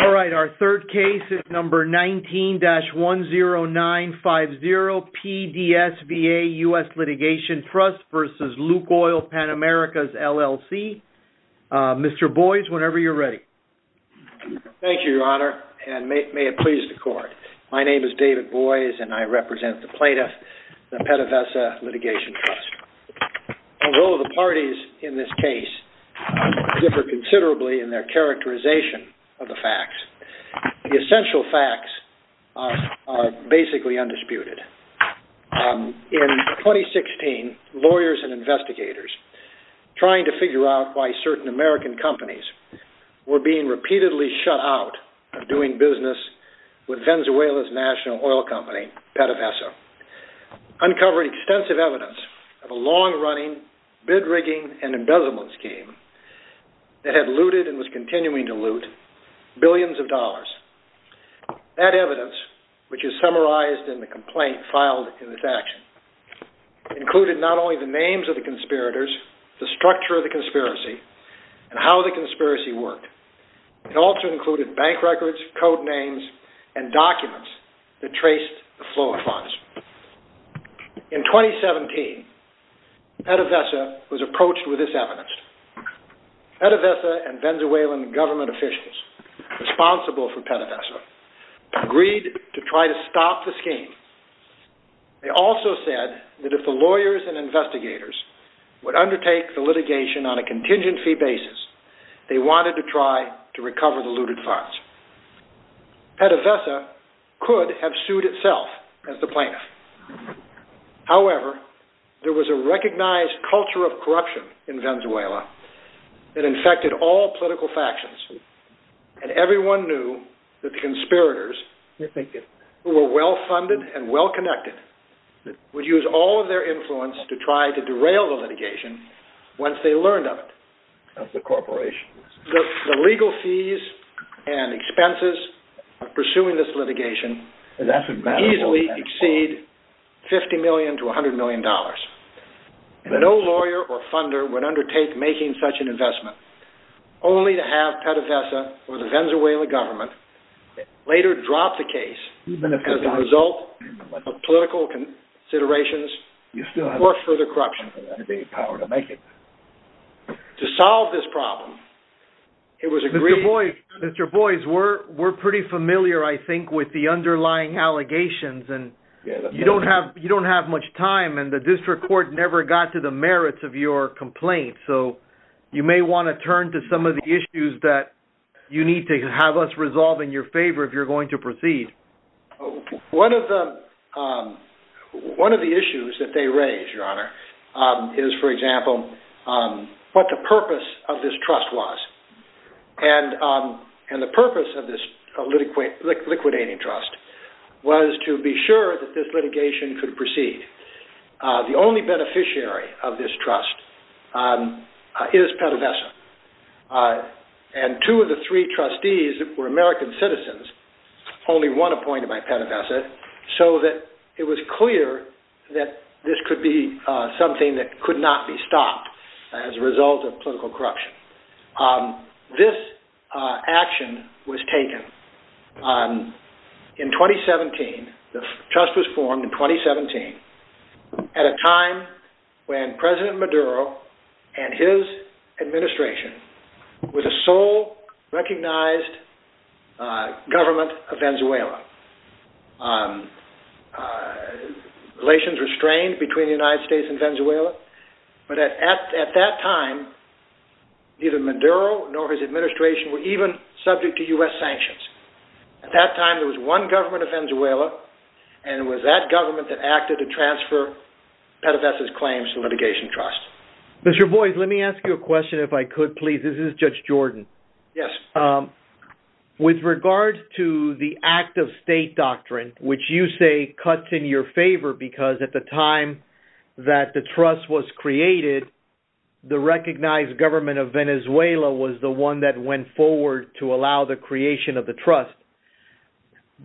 All right, our third case is number 19-10950 PDSVA US Litigation Trust v. Lukoil Pan Americas, LLC. Mr. Boies, whenever you're ready. Thank you, Your Honor, and may it please the Court. My name is David Boies, and I represent the plaintiff, the Pettivessa Litigation Trust. Although the parties in this case differ considerably in their characterization of the facts, the essential facts are basically undisputed. In 2016, lawyers and investigators trying to figure out why certain American companies were being repeatedly shut out of doing business with Venezuela's national oil company, Pettivessa, uncovered extensive evidence of a long-running bid rigging and embezzlement scheme that had looted and was continuing to loot billions of dollars. That evidence, which is summarized in the complaint filed in this action, included not only the names of the conspirators, the structure of the conspiracy, and how the conspiracy worked. It also included bank records, code names, and documents that traced the flow of funds. In 2017, Pettivessa was approached with this evidence. Pettivessa and Venezuelan government officials responsible for Pettivessa agreed to try to stop the scheme. They also said that if the lawyers and investigators would undertake the litigation on a contingency basis, they wanted to try to recover the looted funds. Pettivessa could have sued itself as the plaintiff. However, there was a recognized culture of corruption in Venezuela that infected all political factions, and everyone knew that the conspirators, who were well-funded and well-connected, would use all of their influence to try to derail the litigation once they learned of it. The legal fees and expenses of pursuing this litigation could easily exceed $50 million to $100 million. No lawyer or funder would undertake making such an investment, only to have Pettivessa or the Venezuelan government later drop the case as a result of political considerations or further corruption. To solve this problem, it was agreed... Mr. Boies, we're pretty familiar, I think, with the underlying allegations, and you don't have much time, and the district court never got to the merits of your complaint, so you may want to turn to some of the issues that you need to have us resolve in your favor if you're going to proceed. One of the issues that they raised, Your Honor, is, for example, what the purpose of this trust was. And the purpose of this liquidating trust was to be sure that this litigation could proceed. The only beneficiary of this trust is Pettivessa, and two of the three trustees were American citizens, only one appointed by Pettivessa, so that it was clear that this could be something that could not be stopped as a result of political corruption. This action was taken in 2017. The trust was formed in 2017 at a time when President Maduro and his administration were the sole recognized government of Venezuela. Relations were strained between the United States and Venezuela, but at that time, neither Maduro nor his administration were even subject to U.S. sanctions. At that time, there was one government of Venezuela, and it was that government that acted to transfer Pettivessa's claims to the litigation trust. Mr. Boies, let me ask you a question, if I could, please. This is Judge Jordan. Yes. With regard to the act of state doctrine, which you say cuts in your favor, because at the time that the trust was created, the recognized government of Venezuela was the one that went forward to allow the creation of the trust,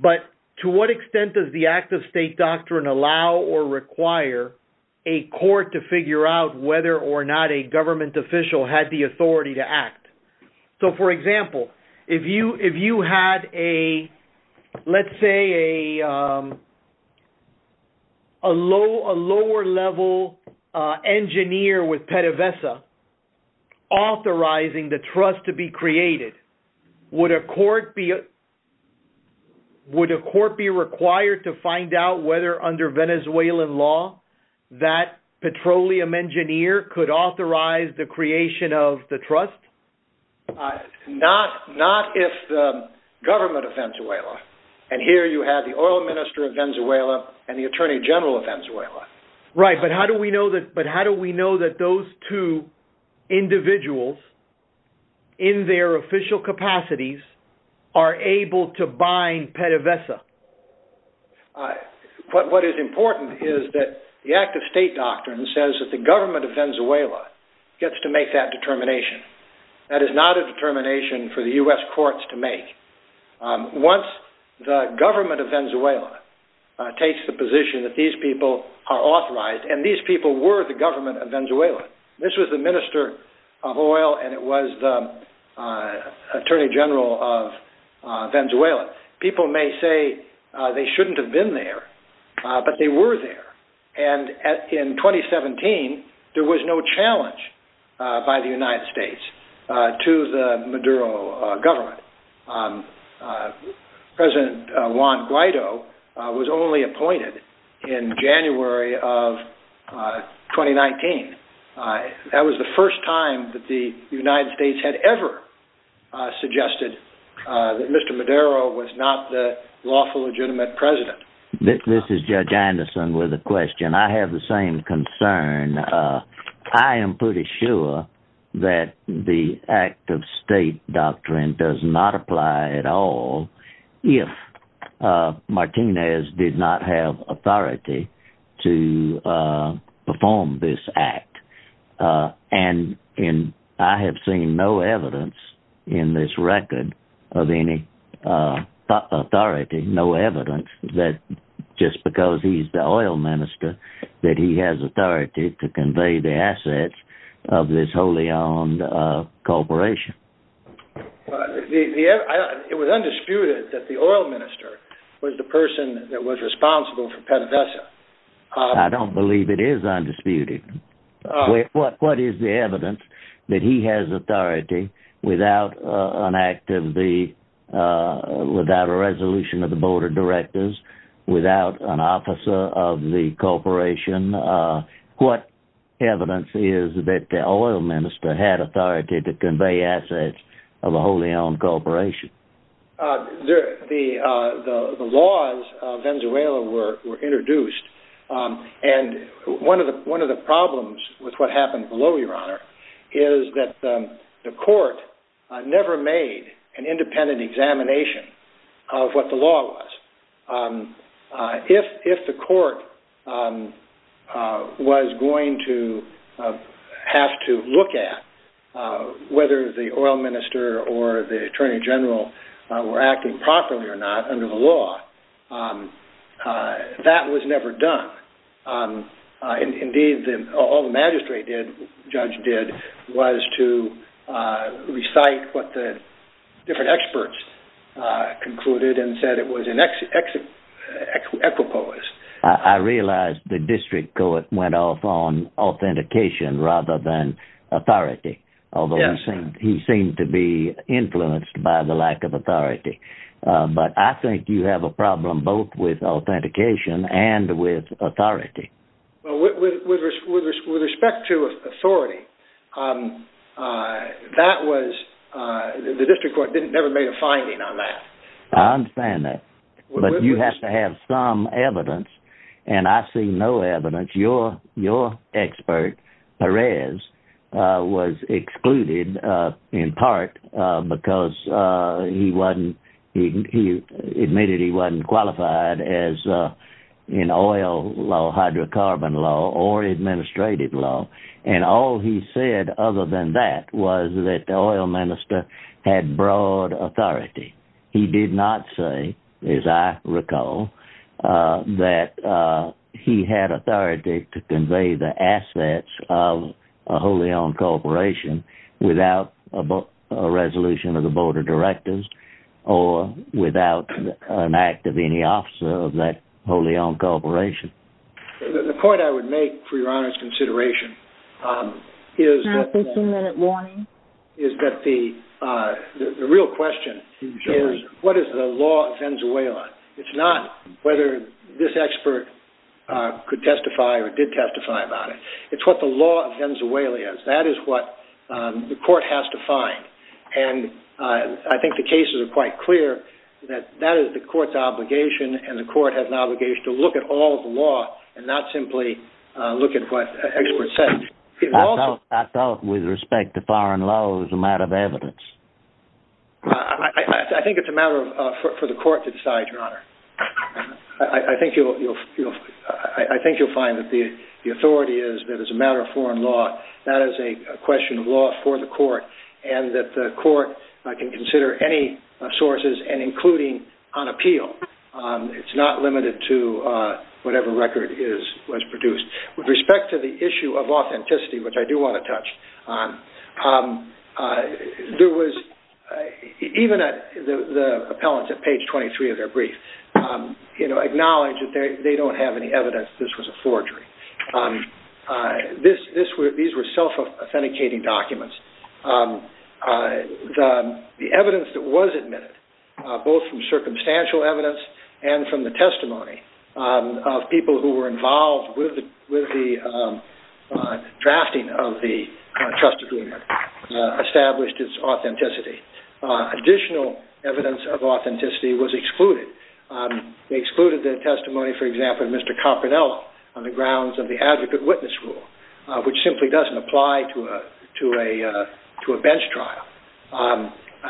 but to what extent does the act of state doctrine allow or require a court to figure out whether or not a government official had the authority to act? So, for example, if you had, let's say, a lower-level engineer with Pettivessa authorizing the trust to be created, would a court be required to find out whether, under Venezuelan law, that petroleum engineer could authorize the creation of the trust? Not if the government of Venezuela, and here you have the oil minister of Venezuela and the attorney general of Venezuela. Right, but how do we know that those two individuals, in their official capacities, are able to bind Pettivessa? What is important is that the act of state doctrine says that the government of Venezuela gets to make that determination. That is not a determination for the U.S. courts to make. Once the government of Venezuela takes the position that these people are authorized, and these people were the government of Venezuela, this was the minister of oil and it was the attorney general of Venezuela, people may say they shouldn't have been there, but they were there. And in 2017, there was no challenge by the United States to the Maduro government. President Juan Guaido was only appointed in January of 2019. That was the first time that the United States had ever suggested that Mr. Maduro was not the lawful legitimate president. This is Judge Anderson with a question. I have the same concern. I am pretty sure that the act of state doctrine does not apply at all if Martinez did not have authority to perform this act. And I have seen no evidence in this record of any authority, no evidence that just because he's the oil minister that he has authority to convey the assets of this wholly owned corporation. It was undisputed that the oil minister was the person that was responsible for Pettivessa. I don't believe it is undisputed. What is the evidence that he has authority without an act of the, without a resolution of the board of directors, without an officer of the corporation? What evidence is that the oil minister had authority to convey assets of a wholly owned corporation? The laws of Venezuela were introduced. And one of the problems with what happened below, Your Honor, is that the court never made an independent examination of what the law was. If the court was going to have to look at whether the oil minister or the attorney general were acting properly or not under the law, that was never done. Indeed, all the magistrate did, the judge did, was to recite what the different experts concluded and said it was an equipoise. I realize the district court went off on authentication rather than authority. Yes. Although he seemed to be influenced by the lack of authority. But I think you have a problem both with authentication and with authority. With respect to authority, that was, the district court never made a finding on that. I understand that. But you have to have some evidence, and I see no evidence. Your expert, Perez, was excluded in part because he admitted he wasn't qualified in oil law, hydrocarbon law, or administrative law. And all he said other than that was that the oil minister had broad authority. He did not say, as I recall, that he had authority to convey the assets of a wholly owned corporation without a resolution of the board of directors or without an act of any officer of that wholly owned corporation. The point I would make for your Honor's consideration is that the real question is, what is the law of Venezuela? It's not whether this expert could testify or did testify about it. It's what the law of Venezuela is. That is what the court has to find. And I think the cases are quite clear that that is the court's obligation, and the court has an obligation to look at all the law and not simply look at what experts say. I thought with respect to foreign law it was a matter of evidence. I think it's a matter for the court to decide, Your Honor. I think you'll find that the authority is that as a matter of foreign law, that is a question of law for the court and that the court can consider any sources and including on appeal. It's not limited to whatever record was produced. With respect to the issue of authenticity, which I do want to touch on, even the appellants at page 23 of their brief acknowledge that they don't have any evidence that this was a forgery. These were self-authenticating documents. The evidence that was admitted, both from circumstantial evidence and from the testimony of people who were involved with the drafting of the trust agreement, established its authenticity. Additional evidence of authenticity was excluded. They excluded the testimony, for example, of Mr. Copernello on the grounds of the advocate witness rule, which simply doesn't apply to a bench trial.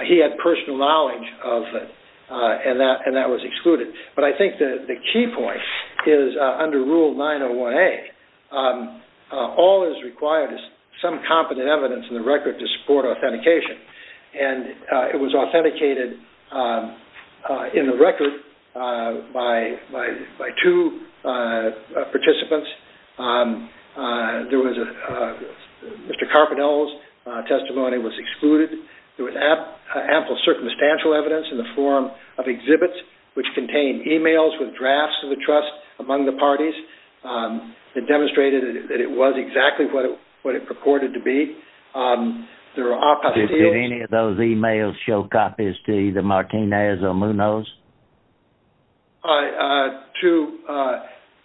He had personal knowledge of it, and that was excluded. But I think the key point is under Rule 901A, all that is required is some competent evidence in the record to support authentication. It was authenticated in the record by two participants. Mr. Copernello's testimony was excluded. There was ample circumstantial evidence in the form of exhibits, which contained emails with drafts of the trust among the parties that demonstrated that it was exactly what it purported to be. Did any of those emails show copies to either Martinez or Munoz? To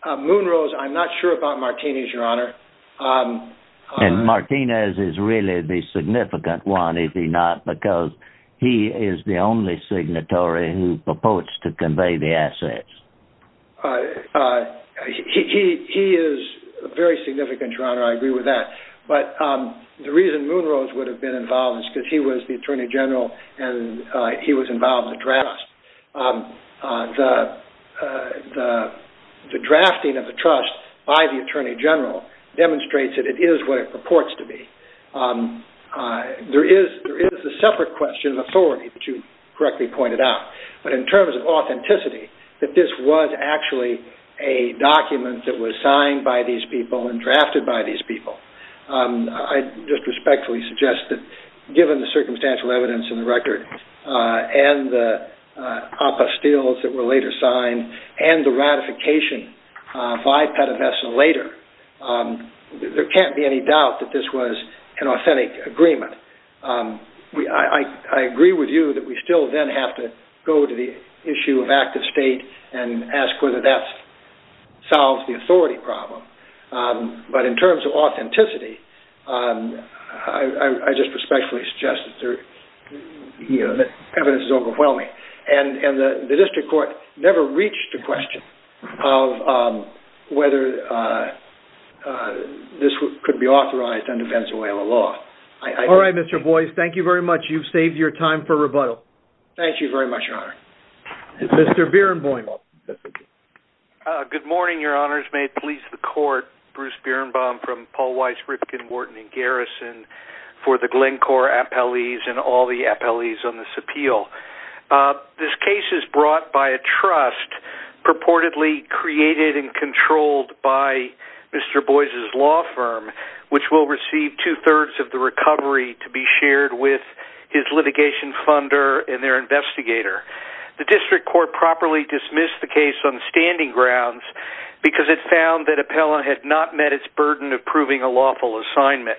Munoz, I'm not sure about Martinez, Your Honor. And Martinez is really the significant one, is he not? Because he is the only signatory who purports to convey the assets. He is very significant, Your Honor, I agree with that. But the reason Munoz would have been involved is because he was the Attorney General and he was involved in the drafts. The drafting of the trust by the Attorney General demonstrates that it is what it purports to be. There is a separate question of authority, which you correctly pointed out. But in terms of authenticity, that this was actually a document that was signed by these people and drafted by these people. I just respectfully suggest that given the circumstantial evidence in the record and the APA steals that were later signed and the ratification by Pettivesta later, there can't be any doubt that this was an authentic agreement. I agree with you that we still then have to go to the issue of active state and ask whether that solves the authority problem. But in terms of authenticity, I just respectfully suggest that the evidence is overwhelming. And the district court never reached a question of whether this could be authorized under Pennsylvania law. All right, Mr. Boies, thank you very much. You've saved your time for rebuttal. Thank you very much, Your Honor. Mr. Bierenbaum. Good morning, Your Honors. May it please the court. Bruce Bierenbaum from Paul Weiss, Ripken, Wharton & Garrison for the Glencore appellees and all the appellees on this appeal. This case is brought by a trust purportedly created and controlled by Mr. Boies' law firm, which will receive two-thirds of the recovery to be shared with his litigation funder and their investigator. The district court properly dismissed the case on standing grounds because it found that appellant had not met its burden of proving a lawful assignment.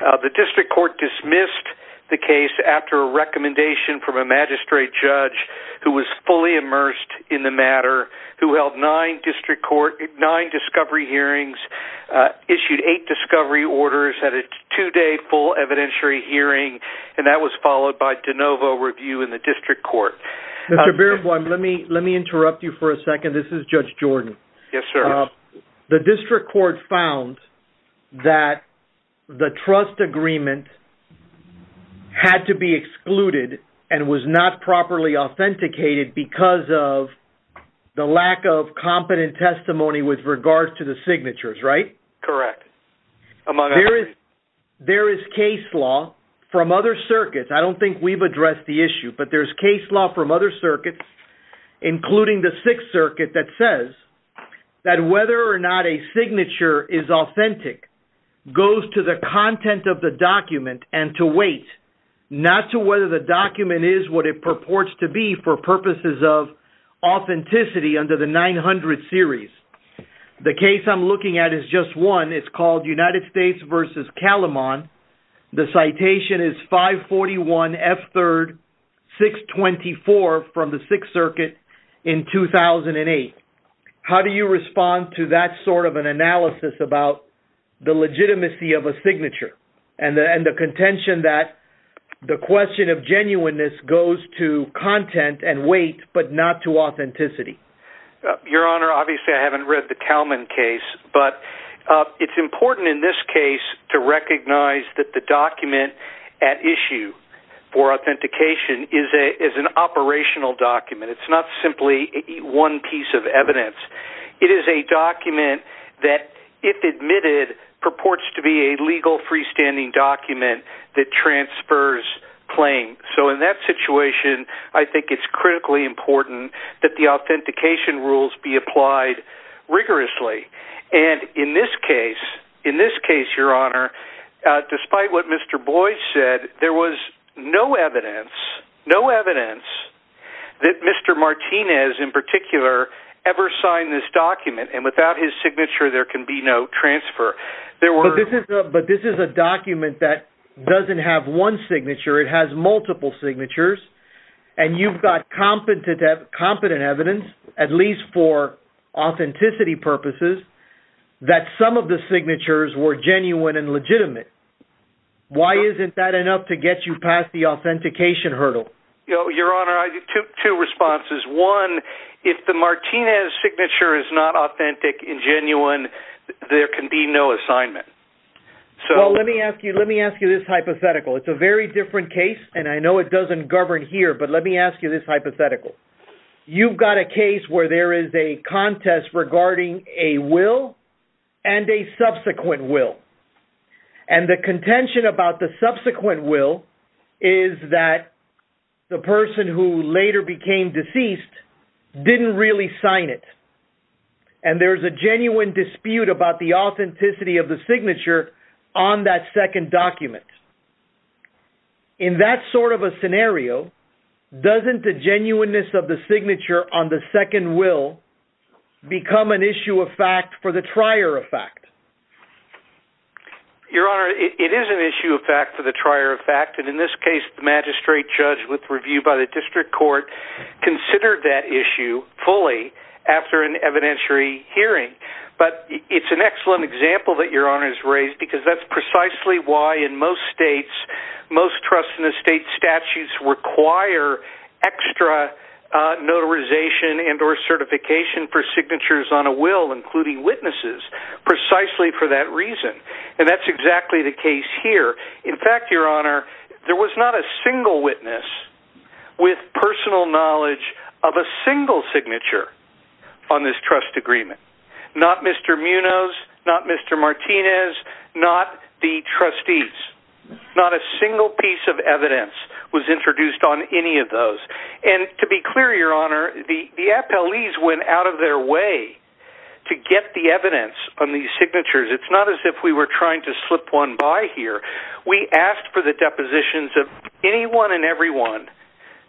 The district court dismissed the case after a recommendation from a magistrate judge who was fully immersed in the matter, who held nine discovery hearings, issued eight discovery orders at a two-day full evidentiary hearing, and that was followed by de novo review in the district court. Mr. Bierenbaum, let me interrupt you for a second. This is Judge Jordan. Yes, sir. The district court found that the trust agreement had to be excluded and was not properly authenticated because of the lack of competent testimony with regards to the signatures, right? Correct. There is case law from other circuits. I don't think we've addressed the issue, but there's case law from other circuits, including the Sixth Circuit, that says that whether or not a signature is authentic goes to the content of the document and to weight, not to whether the document is what it purports to be for purposes of authenticity under the 900 series. The case I'm looking at is just one. It's called United States v. Calamon. The citation is 541F3-624 from the Sixth Circuit in 2008. How do you respond to that sort of an analysis about the legitimacy of a signature and the contention that the question of genuineness goes to content and weight but not to authenticity? Your Honor, obviously I haven't read the Calamon case, but it's important in this case to recognize that the document at issue for authentication is an operational document. It's not simply one piece of evidence. It is a document that, if admitted, purports to be a legal freestanding document that transfers claim. In that situation, I think it's critically important that the authentication rules be applied rigorously. In this case, Your Honor, despite what Mr. Boyce said, there was no evidence that Mr. Martinez, in particular, ever signed this document. Without his signature, there can be no transfer. But this is a document that doesn't have one signature. It has multiple signatures. And you've got competent evidence, at least for authenticity purposes, that some of the signatures were genuine and legitimate. Why isn't that enough to get you past the authentication hurdle? Your Honor, I have two responses. One, if the Martinez signature is not authentic and genuine, there can be no assignment. Well, let me ask you this hypothetical. It's a very different case, and I know it doesn't govern here, but let me ask you this hypothetical. You've got a case where there is a contest regarding a will and a subsequent will. And the contention about the subsequent will is that the person who later became deceased didn't really sign it. And there's a genuine dispute about the authenticity of the signature on that second document. In that sort of a scenario, doesn't the genuineness of the signature on the second will become an issue of fact for the trier of fact? Your Honor, it is an issue of fact for the trier of fact. And in this case, the magistrate judge, with review by the district court, considered that issue fully after an evidentiary hearing. But it's an excellent example that Your Honor has raised because that's precisely why in most states, most trust in the state statutes require extra notarization and or certification for signatures on a will, including witnesses. Precisely for that reason. And that's exactly the case here. In fact, Your Honor, there was not a single witness with personal knowledge of a single signature on this trust agreement. Not Mr. Munoz, not Mr. Martinez, not the trustees. Not a single piece of evidence was introduced on any of those. And to be clear, Your Honor, the FLEs went out of their way to get the evidence on these signatures. It's not as if we were trying to slip one by here. We asked for the depositions of anyone and everyone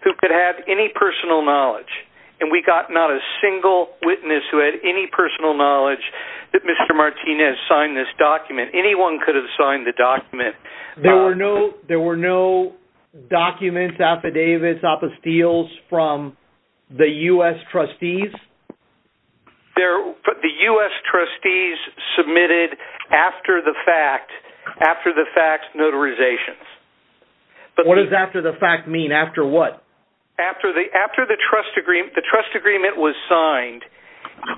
who could have any personal knowledge. And we got not a single witness who had any personal knowledge that Mr. Martinez signed this document. Anyone could have signed the document. There were no documents, affidavits, apostills from the U.S. trustees? The U.S. trustees submitted after the fact notarizations. What does after the fact mean? After what? The trust agreement was signed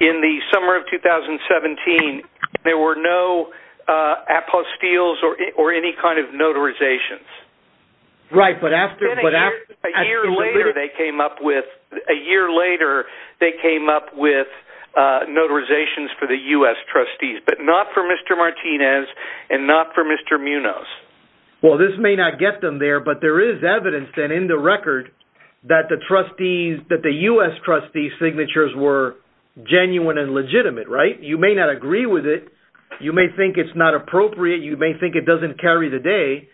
in the summer of 2017. There were no apostills or any kind of notarizations. Right, but a year later they came up with notarizations for the U.S. trustees. But not for Mr. Martinez and not for Mr. Munoz. Well, this may not get them there, but there is evidence in the record that the U.S. trustees' signatures were genuine and legitimate, right? You may not agree with it. You may think it's not appropriate. You may think it doesn't carry the day.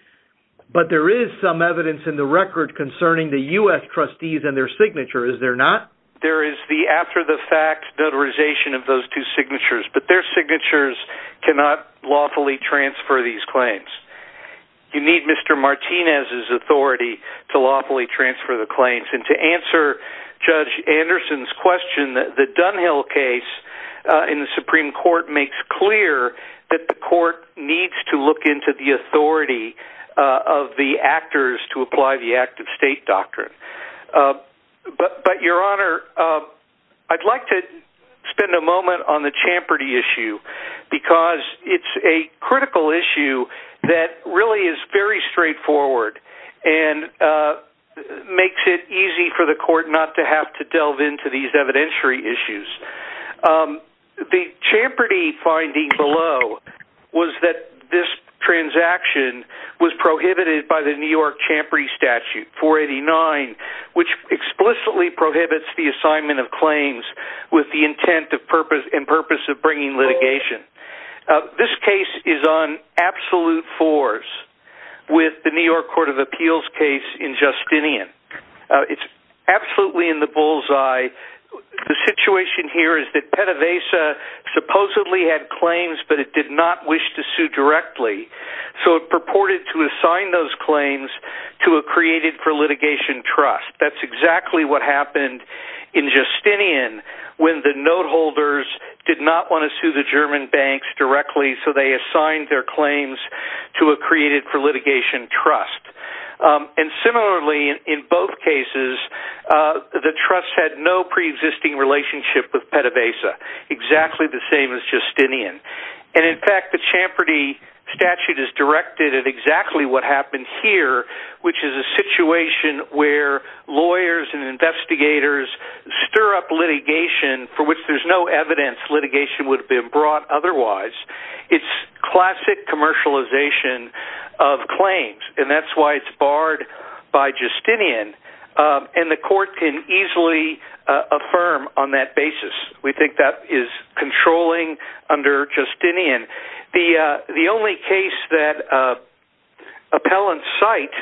But there is some evidence in the record concerning the U.S. trustees and their signatures, is there not? There is the after the fact notarization of those two signatures. You need Mr. Martinez's authority to lawfully transfer the claims. And to answer Judge Anderson's question, the Dunhill case in the Supreme Court makes clear that the court needs to look into the authority of the actors to apply the active state doctrine. But Your Honor, I'd like to spend a moment on the Champerty issue because it's a critical issue that really is very straightforward and makes it easy for the court not to have to delve into these evidentiary issues. The Champerty finding below was that this transaction was prohibited by the New York Champery Statute 489, which explicitly prohibits the assignment of claims with the intent and purpose of bringing litigation. This case is on absolute fours with the New York Court of Appeals case in Justinian. It's absolutely in the bullseye. The situation here is that Pettivesa supposedly had claims, but it did not wish to sue directly. So it purported to assign those claims to a created for litigation trust. That's exactly what happened in Justinian when the note holders did not want to sue the German banks directly, so they assigned their claims to a created for litigation trust. Similarly, in both cases, the trust had no pre-existing relationship with Pettivesa, exactly the same as Justinian. In fact, the Champerty statute is directed at exactly what happened here, which is a situation where lawyers and investigators stir up litigation for which there's no evidence litigation would have been brought otherwise. It's classic commercialization of claims, and that's why it's barred by Justinian. And the court can easily affirm on that basis. We think that is controlling under Justinian. The only case that appellants cite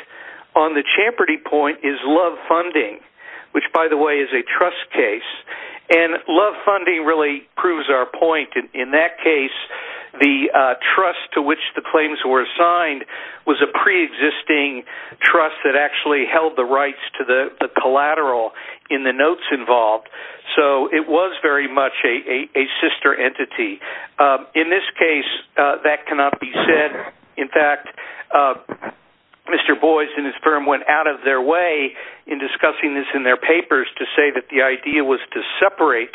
on the Champerty point is Love Funding, which, by the way, is a trust case. And Love Funding really proves our point. In that case, the trust to which the claims were assigned was a pre-existing trust that actually held the rights to the collateral in the notes involved. So it was very much a sister entity. In this case, that cannot be said. In fact, Mr. Boies and his firm went out of their way in discussing this in their papers to say that the idea was to separate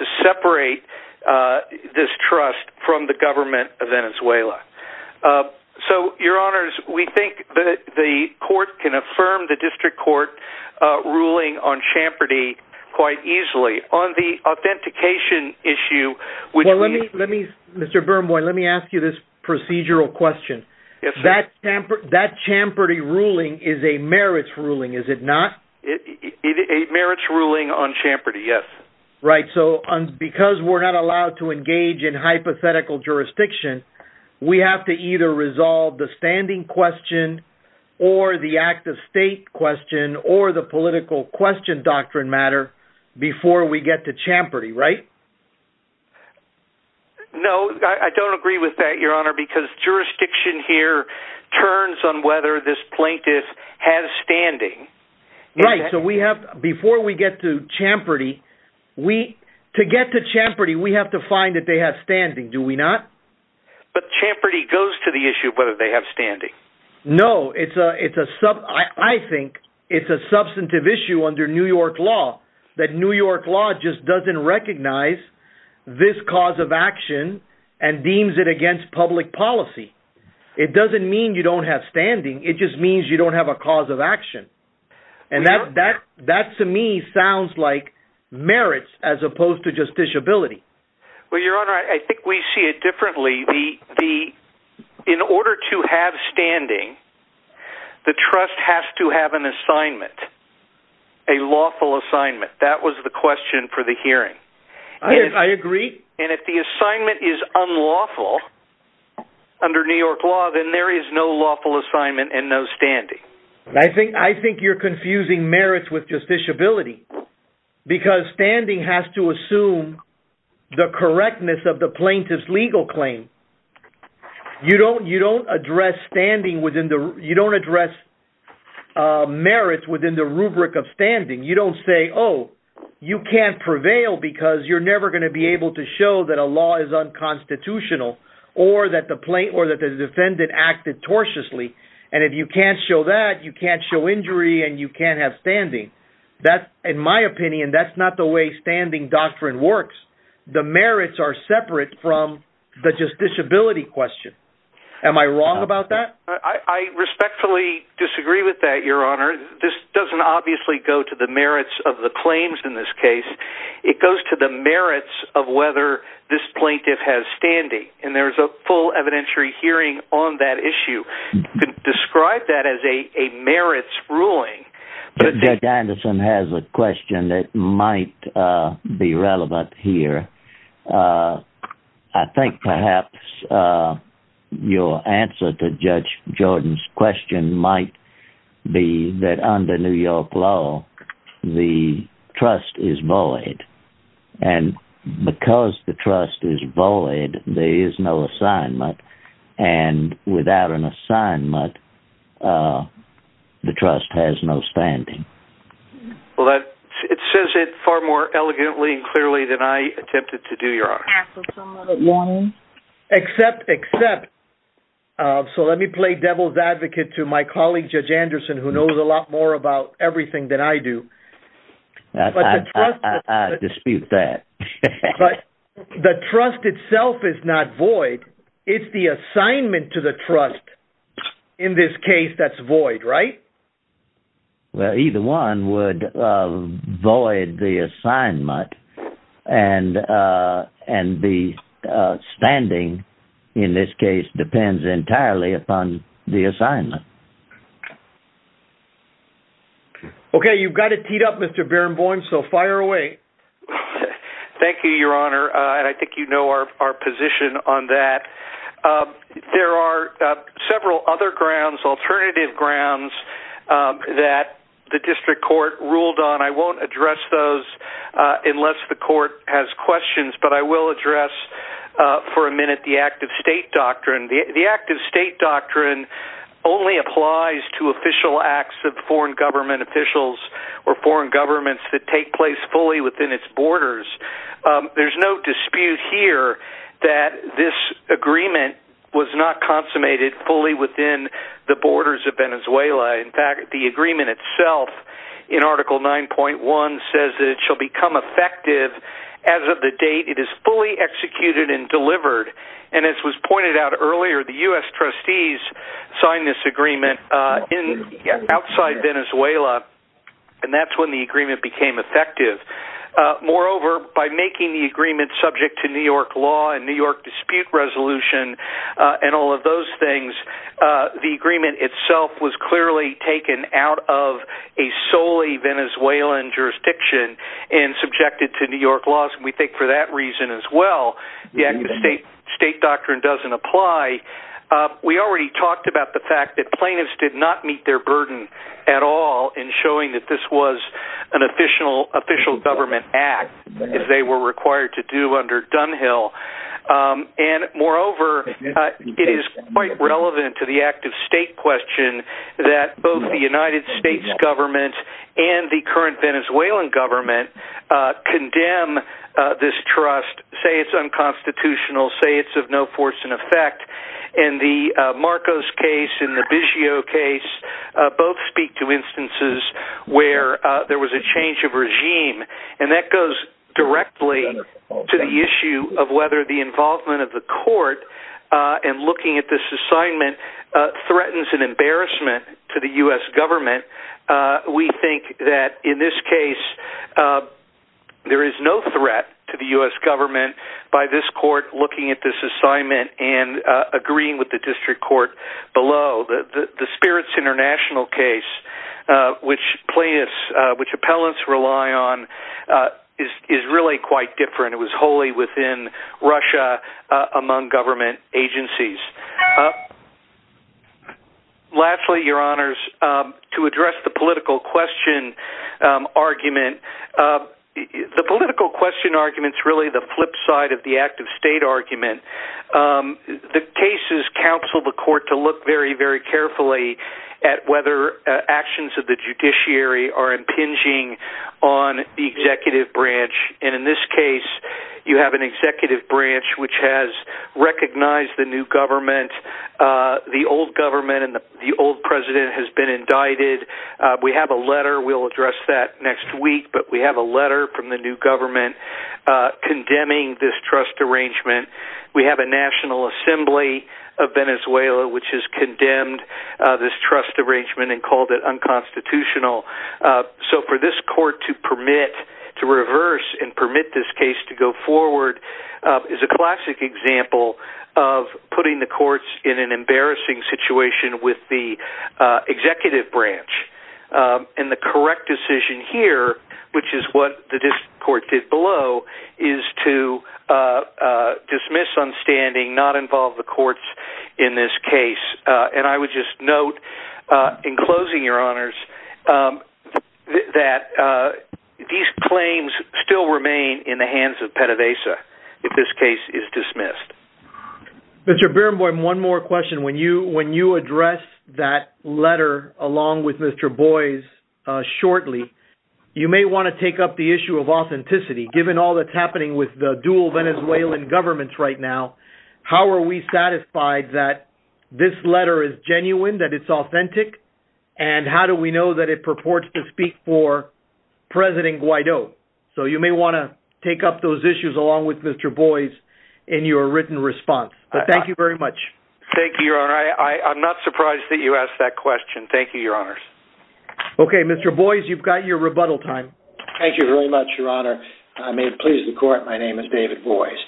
this trust from the government of Venezuela. So, your honors, we think that the court can affirm the district court ruling on Champerty quite easily. On the authentication issue, which we... Well, let me... Mr. Birnbaum, let me ask you this procedural question. Yes, sir. That Champerty ruling is a merits ruling, is it not? A merits ruling on Champerty, yes. Right, so because we're not allowed to engage in hypothetical jurisdiction, we have to either resolve the standing question or the act-of-state question or the political question doctrine matter before we get to Champerty, right? No, I don't agree with that, your honor, because jurisdiction here turns on whether this plaintiff has standing. Right, so we have... Before we get to Champerty, we... To get to Champerty, we have to find that they have standing, do we not? But Champerty goes to the issue of whether they have standing. No, it's a sub... I think it's a substantive issue under New York law that New York law just doesn't recognize this cause of action and deems it against public policy. It doesn't mean you don't have standing, it just means you don't have a cause of action. And that to me sounds like merits as opposed to justiciability. Well, your honor, I think we see it differently. The... In order to have standing, the trust has to have an assignment, a lawful assignment. That was the question for the hearing. Yes, I agree. And if the assignment is unlawful under New York law, then there is no lawful assignment and no standing. I think you're confusing merits with justiciability, because standing has to assume the correctness of the plaintiff's legal claim. You don't address merits within the rubric of standing. You don't say, oh, you can't prevail because you're never going to be able to show that a law is unconstitutional or that the defendant acted tortiously. And if you can't show that, you can't show injury and you can't have standing. In my opinion, that's not the way standing doctrine works. The merits are separate from the justiciability question. Am I wrong about that? I respectfully disagree with that, your honor. This doesn't obviously go to the merits of the claims in this case. It goes to the merits of whether this plaintiff has standing, and there's a full evidentiary hearing on that issue. You could describe that as a merits ruling. Judge Anderson has a question that might be relevant here. I think perhaps your answer to Judge Jordan's question might be that under New York law, the trust is void. And because the trust is void, there is no assignment. And without an assignment, the trust has no standing. Well, it says it far more elegantly and clearly than I attempted to do, your honor. Except, except, so let me play devil's advocate to my colleague, Judge Anderson, who knows a lot more about everything than I do. I dispute that. But the trust itself is not void. It's the assignment to the trust in this case that's void, right? Well, either one would void the assignment, and the standing in this case depends entirely upon the assignment. Okay, you've got it teed up, Mr. Barenboim, so fire away. Thank you, your honor, and I think you know our position on that. There are several other grounds, alternative grounds, that the district court ruled on. I won't address those unless the court has questions, but I will address for a minute the active state doctrine. The active state doctrine only applies to official acts of foreign government officials or foreign governments that take place fully within its borders. There's no dispute here that this agreement was not consummated fully within the borders of Venezuela. In fact, the agreement itself in Article 9.1 says that it shall become effective as of the date it is fully executed and delivered. And as was pointed out earlier, the U.S. trustees signed this agreement outside Venezuela, and that's when the agreement became effective. Moreover, by making the agreement subject to New York law and New York dispute resolution and all of those things, the agreement itself was clearly taken out of a solely Venezuelan jurisdiction and subjected to New York laws. We think for that reason as well, the active state doctrine doesn't apply. We already talked about the fact that plaintiffs did not meet their burden at all in showing that this was an official government act if they were required to do under Dunhill. And moreover, it is quite relevant to the active state question that both the United States government and the current Venezuelan government condemn this trust, say it's unconstitutional, say it's of no force and effect. In the Marcos case and the Bishio case, both speak to instances where there was a change of regime, and that goes directly to the issue of whether the involvement of the court in looking at this assignment threatens an embarrassment to the U.S. government. We think that in this case, there is no threat to the U.S. government by this court looking at this assignment and agreeing with the district court below. The Spirits International case, which plaintiffs, which appellants rely on, is really quite different. It was wholly within Russia among government agencies. Lastly, your honors, to address the political question argument, the political question argument is really the flip side of the active state argument. The cases counsel the court to look very, very carefully at whether actions of the judiciary are impinging on the executive branch. In this case, you have an executive branch which has recognized the new government, the old government, and the old president has been indicted. We have a letter, we'll address that next week, but we have a letter from the new government condemning this trust arrangement. We have a National Assembly of Venezuela which has condemned this trust arrangement and called it unconstitutional. For this court to permit, to reverse and permit this case to go forward is a classic example of putting the courts in an embarrassing situation with the executive branch. The correct decision here, which is what the district court did below, is to dismiss on standing, not involve the courts in this case. I would just note, in closing your honors, that these claims still remain in the hands of PDVSA if this case is dismissed. Mr. Berenboim, one more question. When you address that letter along with Mr. Boies shortly, you may want to take up the issue of authenticity. Given all that's happening with the dual Venezuelan governments right now, how are we satisfied that this letter is genuine, that it's authentic, and how do we know that it purports to speak for President Guaido? You may want to take up those issues along with Mr. Boies in your written response. Thank you very much. Thank you, your honor. I'm not surprised that you asked that question. Thank you, your honors. Okay, Mr. Boies, you've got your rebuttal time. Thank you very much, your honor. May it please the court, my name is David Boies.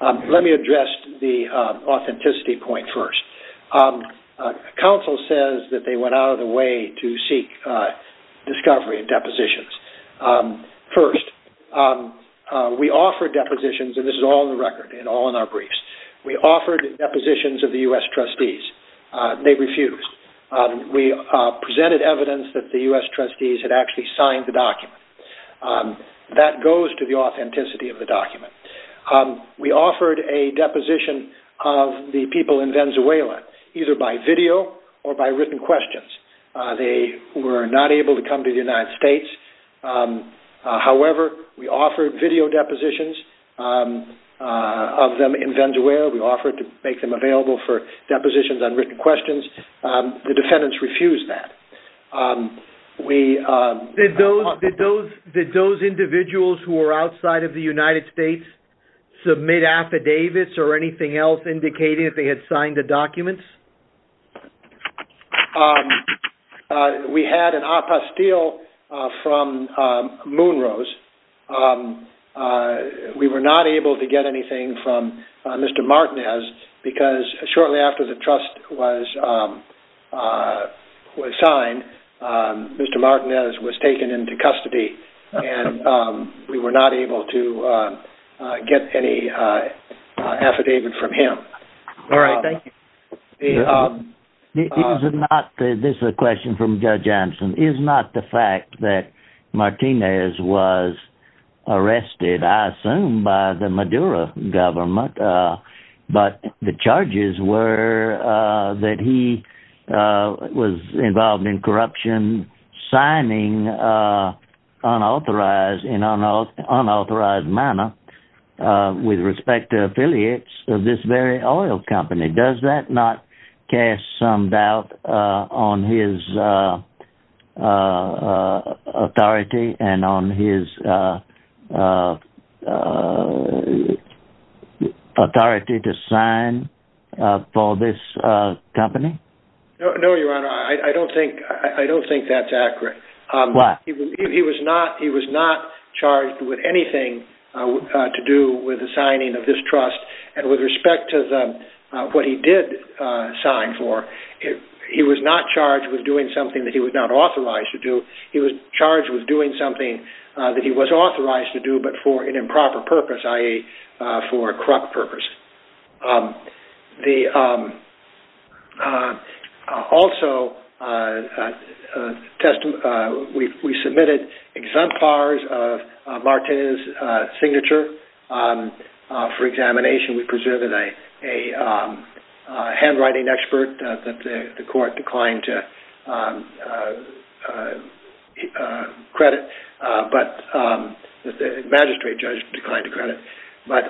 Let me address the authenticity point first. Counsel says that they went out of their way to seek discovery and depositions. First, we offered depositions, and this is all in the record and all in our briefs. We offered depositions of the U.S. trustees. They refused. We presented evidence that the U.S. trustees had actually signed the document. That goes to the authenticity of the document. We offered a deposition of the people in Venezuela, either by video or by written questions. They were not able to come to the United States. However, we offered video depositions of them in Venezuela. We offered to make them available for depositions on written questions. The defendants refused that. Did those individuals who were outside of the United States submit affidavits or anything else indicating that they had signed the documents? We had an apostille from Moonrose. We were not able to get anything from Mr. Martinez because shortly after the trust was signed, Mr. Martinez was taken into custody, and we were not able to get any affidavit from him. All right, thank you. This is a question from Judge Anson. Is not the fact that Martinez was arrested, I assume, by the Maduro government, but the charges were that he was involved in corruption, signing in unauthorized manner with respect to affiliates of this very oil company. Does that not cast some doubt on his authority and on his authority to sign for this company? No, Your Honor, I don't think that's accurate. Why? He was not charged with anything to do with the signing of this trust and with respect to what he did sign for. He was not charged with doing something that he was not authorized to do. He was charged with doing something that he was authorized to do, but for an improper purpose, i.e., for corrupt purposes. Also, we submitted exempt bars of Martinez's signature for examination. We preserved a handwriting expert that the court declined to credit. The magistrate judge declined to credit. But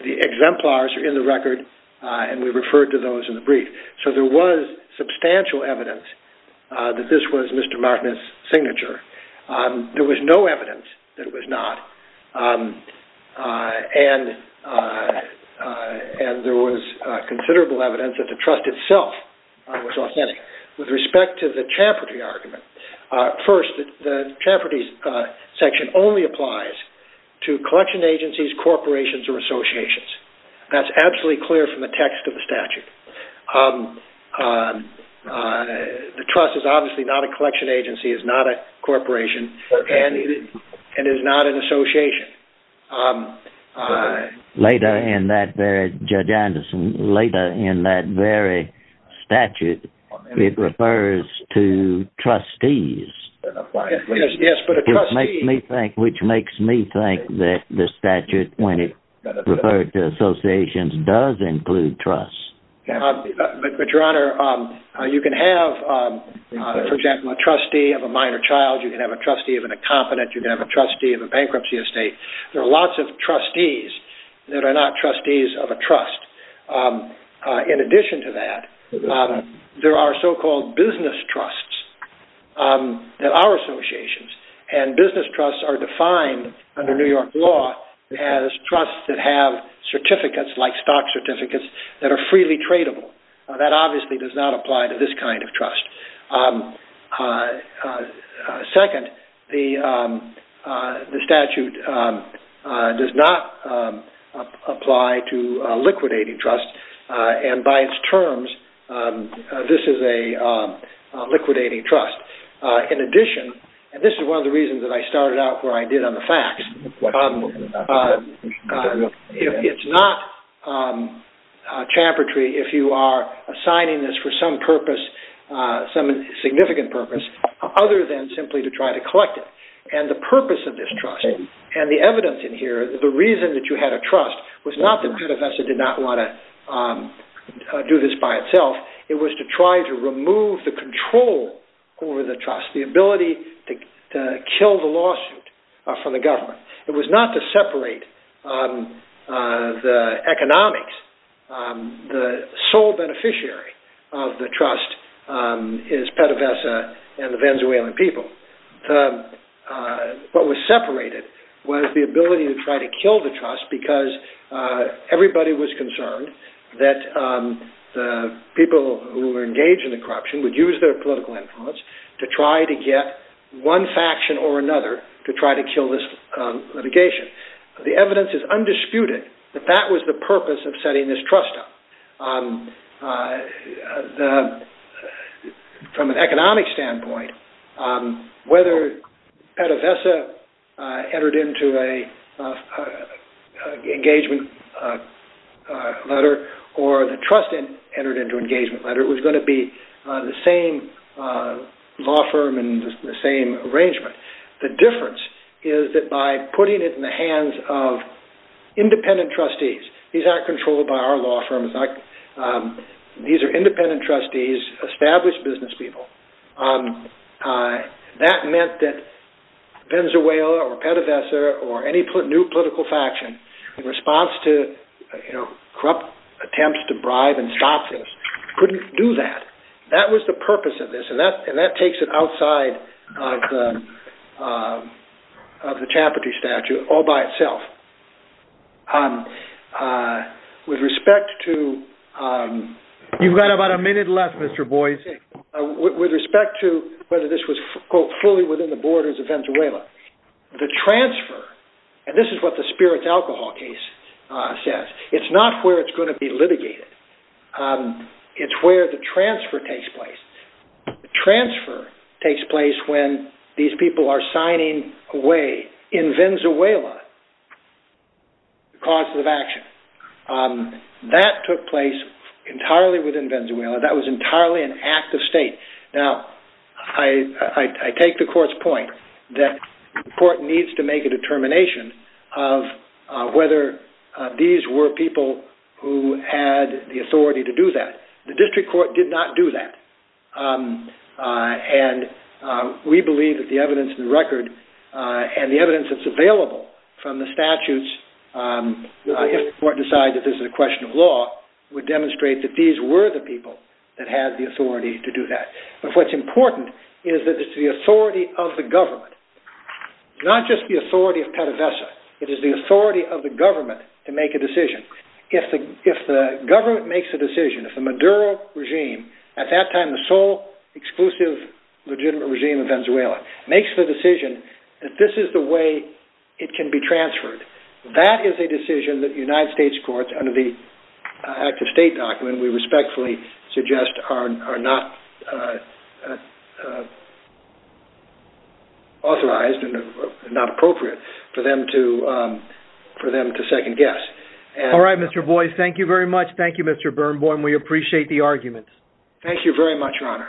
the exemplars are in the record, and we referred to those in the brief. So there was substantial evidence that this was Mr. Martinez's signature. There was no evidence that it was not, and there was considerable evidence that the trust itself was authentic. With respect to the Champerty argument, first, the Champerty section only applies to collection agencies, corporations, or associations. That's absolutely clear from the text of the statute. The trust is obviously not a collection agency, is not a corporation, and is not an association. Later in that very statute, it refers to trustees. Yes, but a trustee... Which makes me think that the statute, when it referred to associations, does include trusts. But, Your Honor, you can have, for example, a trustee of a minor child. You can have a trustee of an incompetent. You can have a trustee of a bankruptcy estate. There are lots of trustees that are not trustees of a trust. In addition to that, there are so-called business trusts that are associations, and business trusts are defined under New York law as trusts that have certificates, like stock certificates, that are freely tradable. That obviously does not apply to this kind of trust. Second, the statute does not apply to liquidating trusts, and by its terms, this is a liquidating trust. In addition, and this is one of the reasons that I started out where I did on the facts, it's not champertry if you are assigning this for some purpose, some significant purpose, other than simply to try to collect it. And the purpose of this trust, and the evidence in here, the reason that you had a trust, was not that Pentevest did not want to do this by itself. It was to try to remove the control over the trust, the ability to kill the lawsuit from the government. It was not to separate the economics. The sole beneficiary of the trust is Pentevest and the Venezuelan people. What was separated was the ability to try to kill the trust, because everybody was concerned that the people who were engaged in the corruption would use their political influence to try to get one faction or another to try to kill this litigation. The evidence is undisputed that that was the purpose of setting this trust up. From an economic standpoint, whether Pentevest entered into an engagement letter or the trust entered into an engagement letter, it was going to be the same law firm and the same arrangement. The difference is that by putting it in the hands of independent trustees, these aren't controlled by our law firms, these are independent trustees, established business people, that meant that Venezuela or Pentevest or any new political faction, in response to corrupt attempts to bribe and stop this, couldn't do that. That was the purpose of this, and that takes it outside of the Chaplaincy Statute all by itself. You've got about a minute left, Mr. Boyce. With respect to whether this was fully within the borders of Venezuela, the transfer, and this is what the spirits alcohol case says, it's not where it's going to be litigated, it's where the transfer takes place. The transfer takes place when these people are signing away in Venezuela the causes of action. That took place entirely within Venezuela, that was entirely an act of state. I take the court's point that the court needs to make a determination of whether these were people who had the authority to do that. The district court did not do that, and we believe that the evidence in the record, and the evidence that's available from the statutes, if the court decides that this is a question of law, would demonstrate that these were the people that had the authority to do that. But what's important is that it's the authority of the government, not just the authority of PDVSA, it is the authority of the government to make a decision. If the government makes a decision, if the Maduro regime, at that time the sole exclusive legitimate regime of Venezuela, makes the decision that this is the way it can be transferred, that is a decision that the United States courts, under the act of state document, we respectfully suggest are not authorized, and not appropriate for them to second guess. All right, Mr. Boyce, thank you very much. Thank you, Mr. Birnbaum, we appreciate the arguments. Thank you very much, your honor.